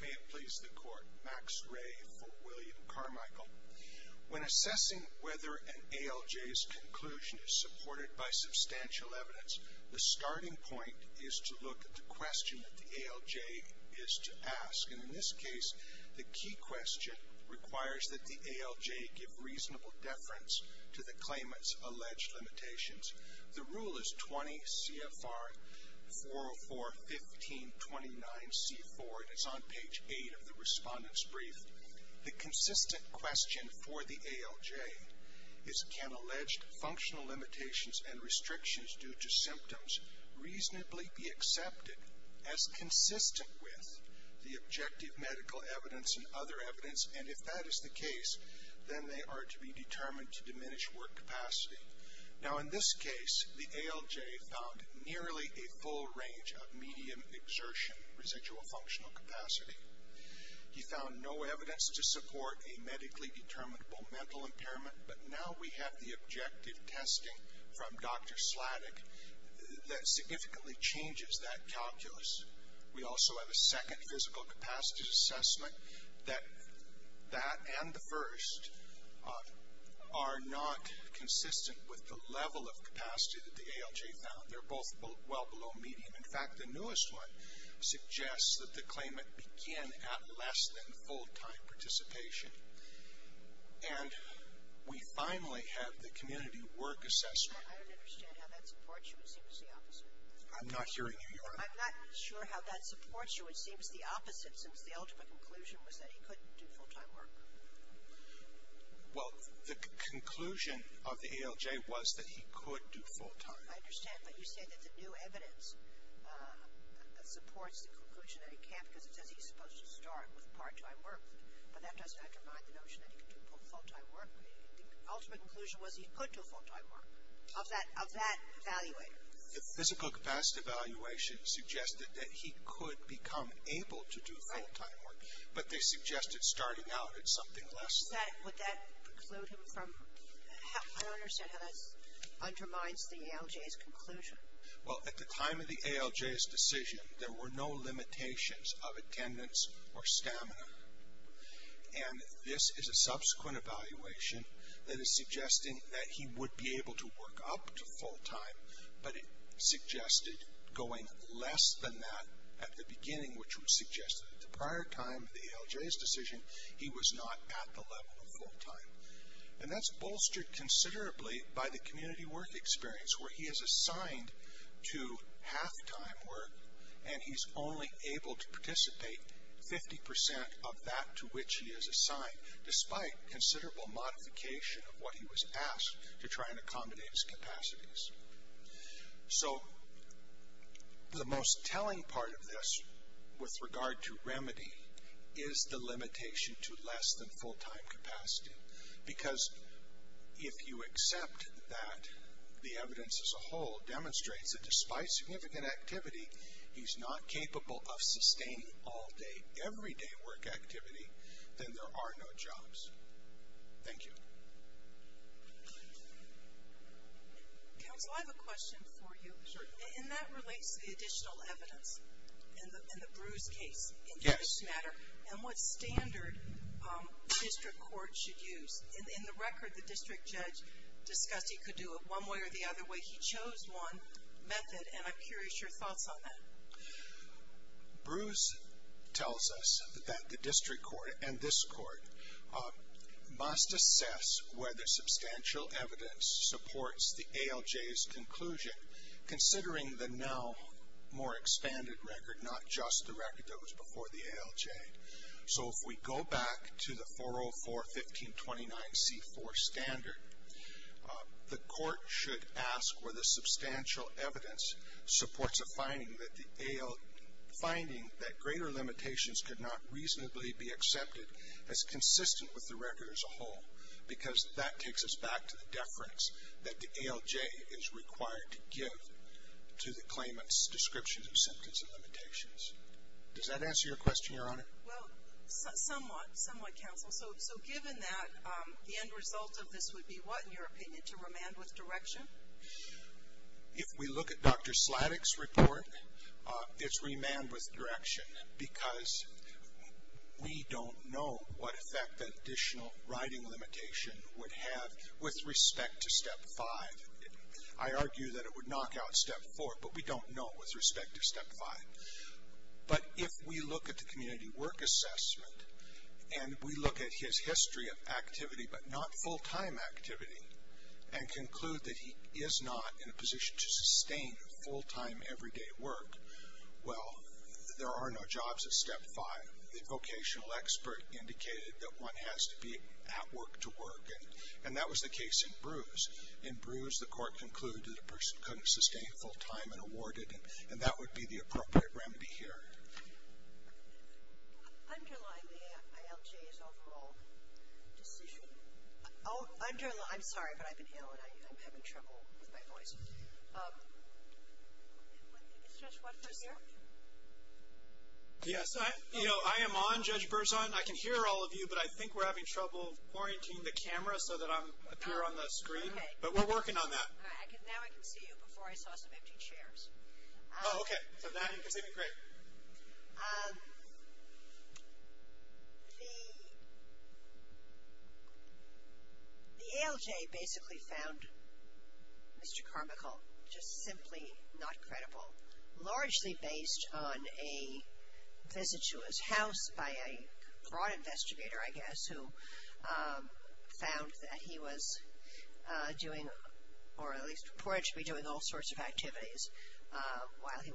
May it please the Court, Max Ray for William Carmickle. When assessing whether an ALJ's conclusion is supported by substantial evidence, the starting point is to look at the question that the ALJ is to ask. And in this case, the key question requires that the ALJ give reasonable deference to the claimant's alleged limitations. The rule is 20 CFR 404.15.29C4. It is on page 8 of the Respondent's Brief. The consistent question for the ALJ is, can alleged functional limitations and restrictions due to symptoms reasonably be accepted as consistent with the objective medical evidence and other evidence? And if that is the case, then they are to be determined to diminish work capacity. Now, in this case, the ALJ found nearly a full range of medium exertion residual functional capacity. He found no evidence to support a medically determinable mental impairment, but now we have the objective testing from Dr. Sladek that significantly changes that calculus. We also have a second physical capacity assessment that that and the first are not consistent with the level of capacity that the ALJ found. They're both well below medium. In fact, the newest one suggests that the claimant began at less than full-time participation. And we finally have the community work assessment. I don't understand how that supports you. It seems the opposite. I'm not hearing you. I'm not sure how that supports you. It seems the opposite since the ultimate conclusion was that he couldn't do full-time work. Well, the conclusion of the ALJ was that he could do full-time. I understand. But you say that the new evidence supports the conclusion that he can't because it says he's supposed to start with part-time work. But that doesn't undermine the notion that he can do full-time work. The ultimate conclusion was he could do full-time work of that evaluator. The physical capacity evaluation suggested that he could become able to do full-time work. But they suggested starting out at something less than that. Would that preclude him from? I don't understand how that undermines the ALJ's conclusion. Well, at the time of the ALJ's decision, there were no limitations of attendance or stamina. And this is a subsequent evaluation that is suggesting that he would be able to work up to full-time. But it suggested going less than that at the beginning, which would suggest that at the prior time of the ALJ's decision, he was not at the level of full-time. And that's bolstered considerably by the community work experience, where he is assigned to half-time work, and he's only able to participate 50% of that to which he is assigned, despite considerable modification of what he was asked to try and accommodate his capacities. So the most telling part of this, with regard to remedy, is the limitation to less than full-time capacity. Because if you accept that the evidence as a whole demonstrates that despite significant activity, he's not capable of sustaining all day, every day work activity, then there are no jobs. Thank you. Counsel, I have a question for you. And that relates to the additional evidence in the Bruce case. Yes. And what standard the district court should use? In the record, the district judge discussed he could do it one way or the other way. He chose one method, and I'm curious your thoughts on that. Bruce tells us that the district court and this court must assess whether substantial evidence supports the ALJ's conclusion, considering the now more expanded record, not just the record that was before the ALJ. So if we go back to the 404-1529-C4 standard, the court should ask whether substantial evidence supports a finding that greater limitations could not reasonably be accepted as consistent with the And that takes us back to the deference that the ALJ is required to give to the claimant's description of sentence and limitations. Does that answer your question, Your Honor? Well, somewhat, somewhat, Counsel. So given that, the end result of this would be what, in your opinion, to remand with direction? If we look at Dr. Sladek's report, it's remand with direction because we don't know what effect that additional writing limitation would have with respect to Step 5. I argue that it would knock out Step 4, but we don't know with respect to Step 5. But if we look at the community work assessment and we look at his history of activity, but not full-time activity, and conclude that he is not in a position to sustain full-time everyday work, well, there are no jobs at Step 5. The vocational expert indicated that one has to be at work to work, and that was the case in Brews. In Brews, the court concluded that a person couldn't sustain full-time and awarded, and that would be the appropriate remedy here. Underline the ALJ's overall decision. I'm sorry, but I've been ill and I'm having trouble with my voice. Is Judge Watford here? Yes. I am on, Judge Berzon. I can hear all of you, but I think we're having trouble orienting the camera so that I appear on the screen. But we're working on that. Now I can see you before I saw some empty chairs. Oh, okay. So now you can see me? Great. The ALJ basically found Mr. Carmichael just simply not credible, largely based on a visit to his house by a broad investigator, I guess, who found that he was doing, or at least reported to be doing, all sorts of activities while he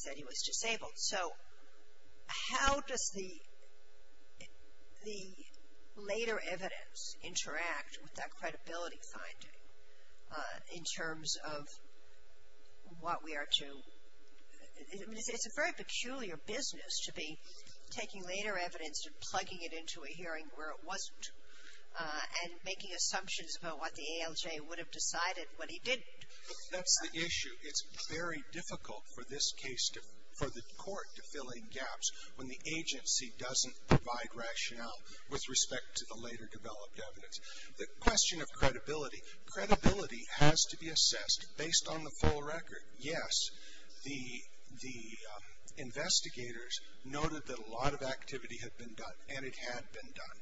said he was disabled. So how does the later evidence interact with that credibility finding in terms of what we are to? It's a very peculiar business to be taking later evidence and plugging it into a hearing where it wasn't, and making assumptions about what the ALJ would have decided when he didn't. That's the issue. It's very difficult for this case, for the court to fill in gaps when the agency doesn't provide rationale with respect to the later developed evidence. The question of credibility, credibility has to be assessed based on the full record. Yes, the investigators noted that a lot of activity had been done, and it had been done.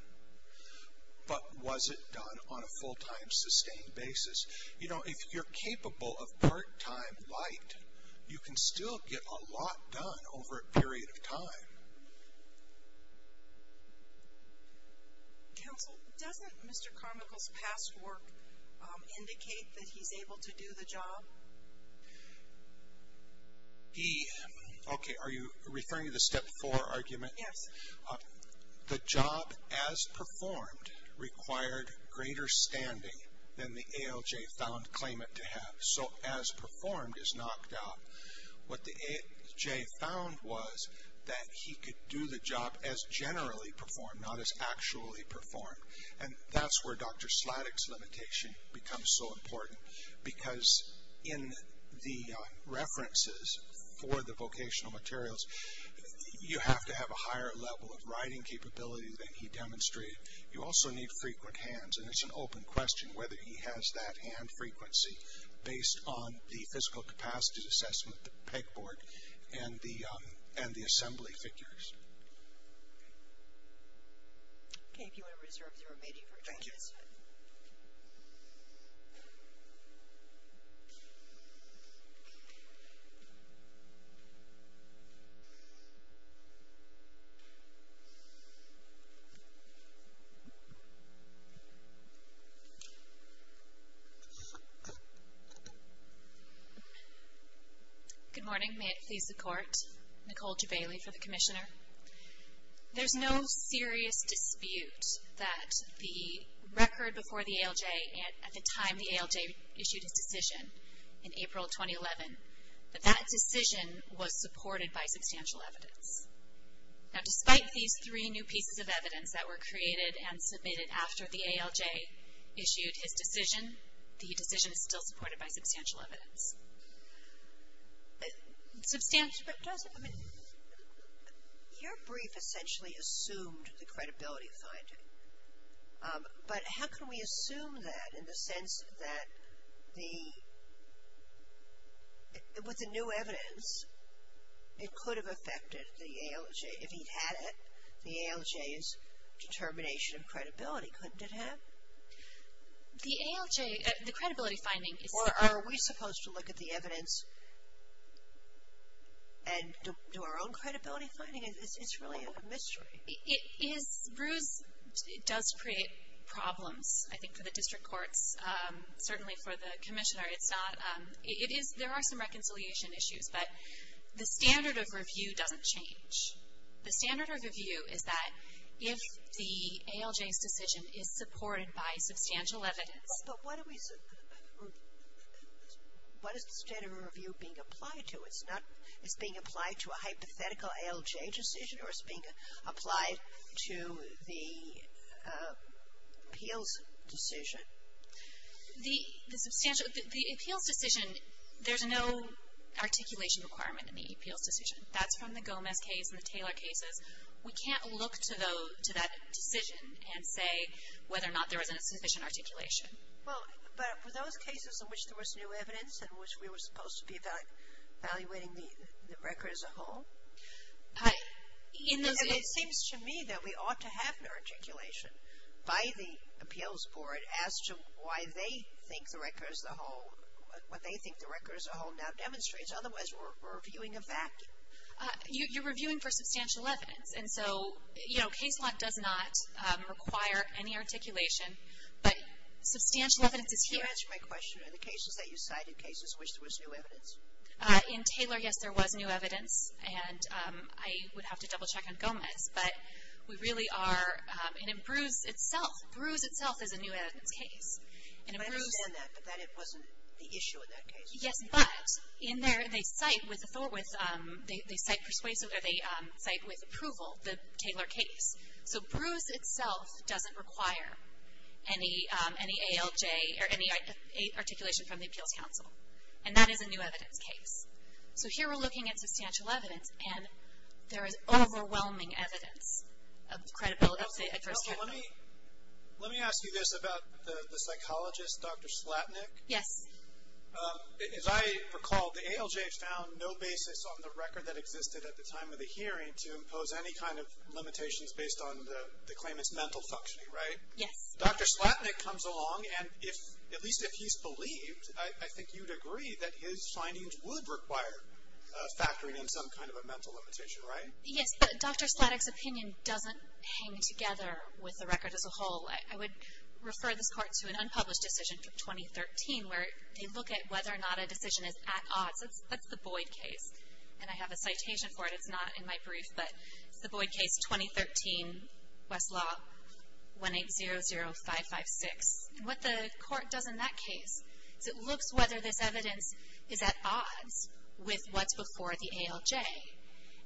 But was it done on a full-time, sustained basis? You know, if you're capable of part-time light, you can still get a lot done over a period of time. Counsel, doesn't Mr. Carmichael's past work indicate that he's able to do the job? He, okay, are you referring to the step four argument? Yes. The job as performed required greater standing than the ALJ found claimant to have. So as performed is knocked out. What the ALJ found was that he could do the job as generally performed, not as actually performed. And that's where Dr. Sladek's limitation becomes so important, because in the references for the vocational materials, you have to have a higher level of writing capability than he demonstrated. You also need frequent hands, and it's an open question whether he has that hand frequency, based on the physical capacity assessment, the pegboard, and the assembly figures. Okay, if you want to reserve the remaining for Dr. Sladek. Thank you. Thank you. Good morning. May it please the Court. Nicole J. Bailey for the Commissioner. There's no serious dispute that the record before the ALJ, at the time the ALJ issued its decision in April 2011, that that decision was supported by substantial evidence. Now, despite these three new pieces of evidence that were created and submitted after the ALJ issued his decision, the decision is still supported by substantial evidence. Your brief essentially assumed the credibility finding. But how can we assume that in the sense that the, with the new evidence, it could have affected the ALJ if he'd had it? The ALJ's determination of credibility, couldn't it have? The ALJ, the credibility finding is. Or are we supposed to look at the evidence and do our own credibility finding? It's really a mystery. It is, Bruce, it does create problems, I think, for the district courts, certainly for the Commissioner. It's not, it is, there are some reconciliation issues, but the standard of review doesn't change. The standard of review is that if the ALJ's decision is supported by substantial evidence. But what do we, what is the standard of review being applied to? It's not, it's being applied to a hypothetical ALJ decision, or it's being applied to the appeals decision? The, the substantial, the appeals decision, there's no articulation requirement in the appeals decision. That's from the Gomez case and the Taylor cases. We can't look to those, to that decision and say whether or not there was a sufficient articulation. Well, but were those cases in which there was new evidence in which we were supposed to be evaluating the record as a whole? In those cases. And it seems to me that we ought to have an articulation by the appeals board as to why they think the record as a whole, what they think the record as a whole now demonstrates. Otherwise, we're reviewing a vacuum. You're reviewing for substantial evidence. And so, you know, case law does not require any articulation. But substantial evidence is here. Can you answer my question? Are the cases that you cite in cases in which there was new evidence? In Taylor, yes, there was new evidence. And I would have to double check on Gomez. But we really are, and in Bruce itself, Bruce itself is a new evidence case. And in Bruce. I understand that, but that it wasn't the issue in that case. Yes, but in there, they cite with, they cite persuasive, or they cite with approval the Taylor case. So Bruce itself doesn't require any ALJ or any articulation from the appeals council. And that is a new evidence case. So here we're looking at substantial evidence, and there is overwhelming evidence of credibility of the adverse capital. Let me ask you this about the psychologist, Dr. Slatnik. Yes. As I recall, the ALJ found no basis on the record that existed at the time of the hearing to impose any kind of limitations based on the claimant's mental functioning, right? Yes. Dr. Slatnik comes along, and if, at least if he's believed, I think you'd agree that his findings would require factoring in some kind of a mental limitation, right? Yes, but Dr. Slatnik's opinion doesn't hang together with the record as a whole. I would refer this court to an unpublished decision from 2013, where they look at whether or not a decision is at odds. That's the Boyd case, and I have a citation for it. It's not in my brief, but it's the Boyd case, 2013, Westlaw, 1-800-556. And what the court does in that case is it looks whether this evidence is at odds with what's before the ALJ.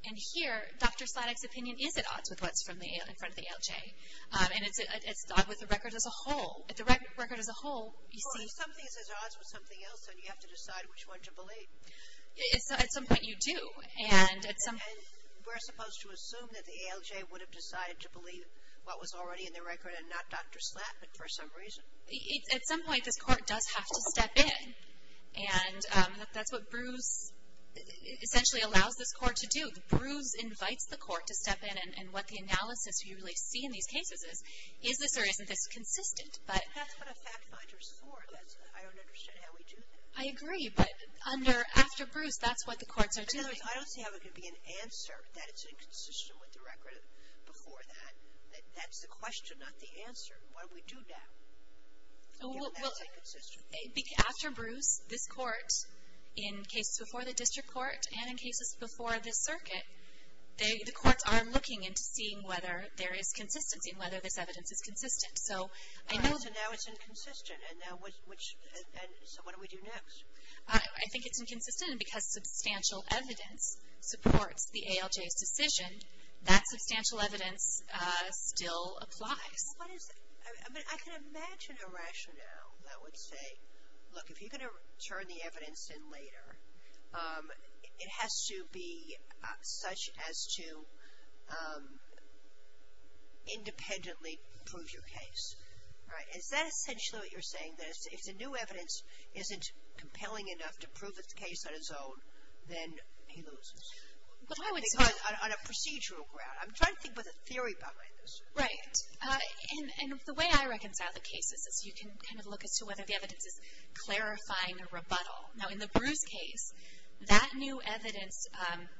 And here, Dr. Slatnik's opinion is at odds with what's in front of the ALJ, and it's at odds with the record as a whole. At the record as a whole, you see… Well, if something is at odds with something else, then you have to decide which one to believe. At some point you do. And we're supposed to assume that the ALJ would have decided to believe what was already in the record and not Dr. Slatnik for some reason. At some point, this court does have to step in. And that's what Bruce essentially allows this court to do. Bruce invites the court to step in, and what the analysis you really see in these cases is, is this or isn't this consistent? That's what a fact finder's for. I don't understand how we do that. I agree, but after Bruce, that's what the courts are doing. In other words, I don't see how there could be an answer that it's inconsistent with the record before that. That's the question, not the answer. What do we do now? Well, after Bruce, this court, in cases before the district court and in cases before this circuit, the courts are looking into seeing whether there is consistency and whether this evidence is consistent. So I know… All right, so now it's inconsistent. So what do we do next? I think it's inconsistent because substantial evidence supports the ALJ's decision. That substantial evidence still applies. I mean, I can imagine a rationale that would say, look, if you're going to turn the evidence in later, it has to be such as to independently prove your case. Is that essentially what you're saying, that if the new evidence isn't compelling enough to prove its case on its own, then he loses? Because on a procedural ground, I'm trying to think of a theory behind this. Right. And the way I reconcile the cases is you can kind of look as to whether the evidence is clarifying a rebuttal. Now, in the Bruce case, that new evidence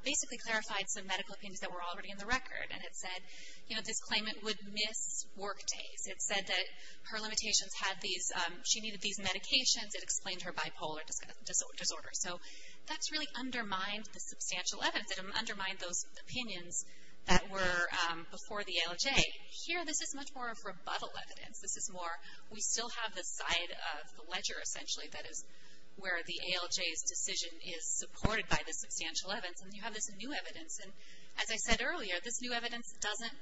basically clarified some medical opinions that were already in the record, and it said, you know, this claimant would miss work days. It said that her limitations had these – she needed these medications. It explained her bipolar disorder. So that's really undermined the substantial evidence. It undermined those opinions that were before the ALJ. Here, this is much more of rebuttal evidence. This is more, we still have this side of the ledger, essentially, that is where the ALJ's decision is supported by the substantial evidence, and you have this new evidence. And as I said earlier, this new evidence doesn't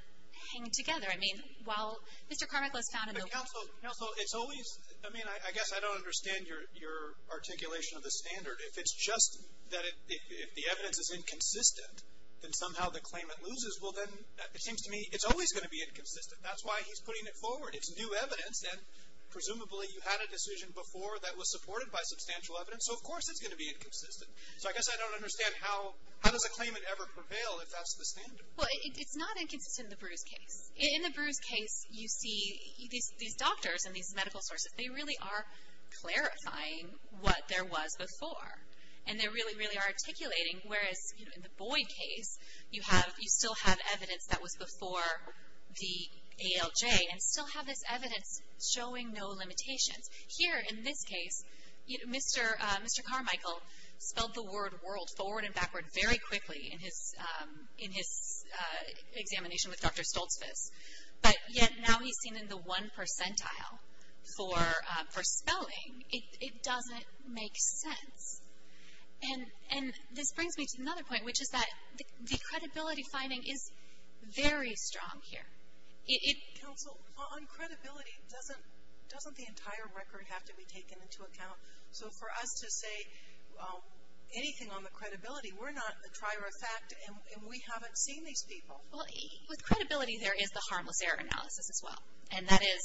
hang together. I mean, while Mr. Carmichael is found in the – Counsel, it's always – I mean, I guess I don't understand your articulation of the standard. If it's just that if the evidence is inconsistent, then somehow the claimant loses. Well, then it seems to me it's always going to be inconsistent. That's why he's putting it forward. It's new evidence, and presumably you had a decision before that was supported by substantial evidence, so of course it's going to be inconsistent. So I guess I don't understand how does a claimant ever prevail if that's the standard? Well, it's not inconsistent in the Bruce case. In the Bruce case, you see these doctors and these medical sources, they really are clarifying what there was before. And they really, really are articulating, whereas in the Boyd case, you still have evidence that was before the ALJ and still have this evidence showing no limitations. Here, in this case, Mr. Carmichael spelled the word world forward and backward very quickly in his examination with Dr. Stoltzfus. But yet now he's seen in the one percentile for spelling. It doesn't make sense. And this brings me to another point, which is that the credibility finding is very strong here. Counsel, on credibility, doesn't the entire record have to be taken into account? So for us to say anything on the credibility, we're not a trier of fact, and we haven't seen these people. Well, with credibility, there is the harmless error analysis as well. And that is,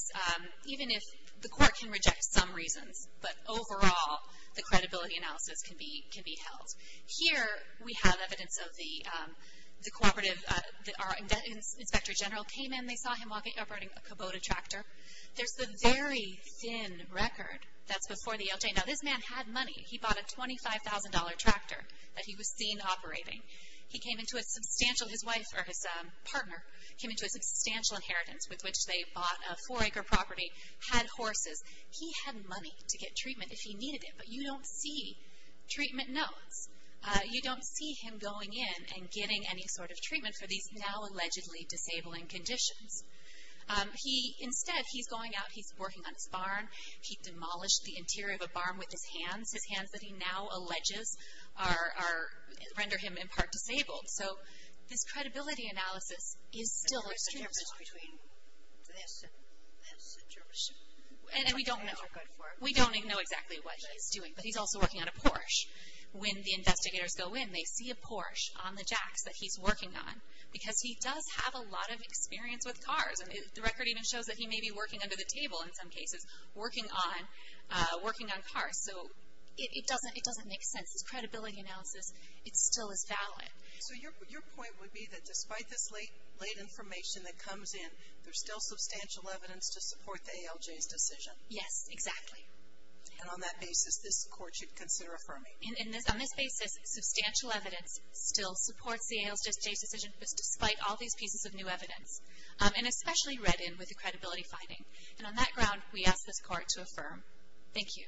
even if the court can reject some reasons, but overall the credibility analysis can be held. Here we have evidence of the cooperative, our inspector general came in, they saw him operating a Kubota tractor. There's the very thin record that's before the ALJ. Now this man had money. He bought a $25,000 tractor that he was seen operating. He came into a substantial, his wife, or his partner, came into a substantial inheritance with which they bought a four-acre property, had horses. He had money to get treatment if he needed it, but you don't see treatment notes. You don't see him going in and getting any sort of treatment for these now allegedly disabling conditions. Instead, he's going out, he's working on his barn. He demolished the interior of a barn with his hands. His hands that he now alleges render him in part disabled. So this credibility analysis is still extremely strong. And what's the difference between this and this? And we don't know. We don't know exactly what he's doing, but he's also working on a Porsche. When the investigators go in, they see a Porsche on the jacks that he's working on, because he does have a lot of experience with cars. The record even shows that he may be working under the table in some cases, working on cars. So it doesn't make sense. This credibility analysis, it still is valid. So your point would be that despite this late information that comes in, there's still substantial evidence to support the ALJ's decision? Yes, exactly. And on that basis, this Court should consider affirming? On this basis, substantial evidence still supports the ALJ's decision, despite all these pieces of new evidence, and especially read in with the credibility finding. And on that ground, we ask this Court to affirm. Thank you.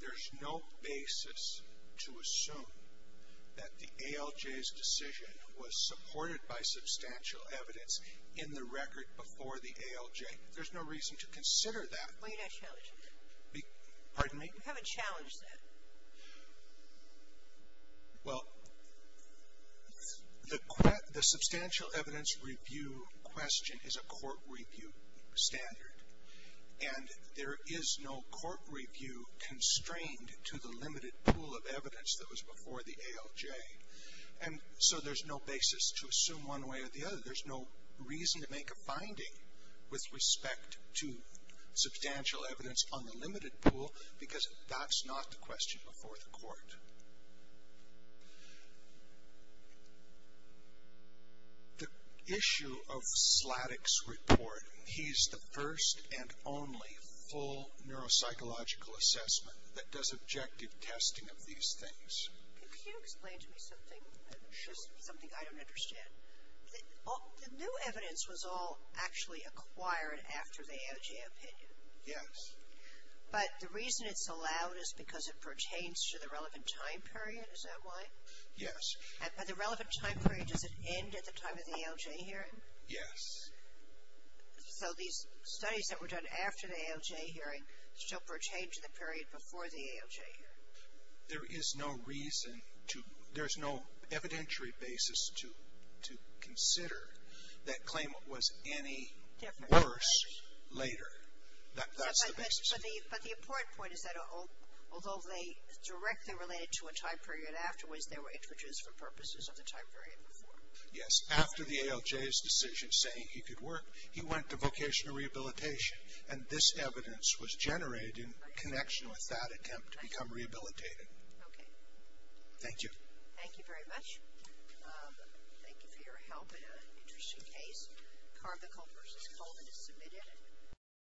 There's no basis to assume that the ALJ's decision was supported by substantial evidence in the record before the ALJ. There's no reason to consider that. Why are you not challenging that? Pardon me? You haven't challenged that. Well, the substantial evidence review question is a court review standard, and there is no court review constrained to the limited pool of evidence that was before the ALJ. And so there's no basis to assume one way or the other. There's no reason to make a finding with respect to substantial evidence on the limited pool, because that's not the question before the Court. The issue of Sladek's report, he's the first and only full neuropsychological assessment that does objective testing of these things. Could you explain to me something? Sure. Something I don't understand. The new evidence was all actually acquired after the ALJ opinion. Yes. But the reason it's allowed is because it pertains to the relevant time period. Is that why? Yes. And by the relevant time period, does it end at the time of the ALJ hearing? Yes. So these studies that were done after the ALJ hearing still pertain to the period before the ALJ hearing? There is no reason to, there's no evidentiary basis to consider that claimant was any worse later. That's the basis. But the important point is that although they directly related to a time period afterwards, they were introduced for purposes of the time period before. Yes. After the ALJ's decision saying he could work, he went to vocational rehabilitation, and this evidence was generated in connection with that attempt to become rehabilitated. Okay. Thank you. Thank you very much. Thank you for your help in an interesting case. Carvacol versus COVID is submitted.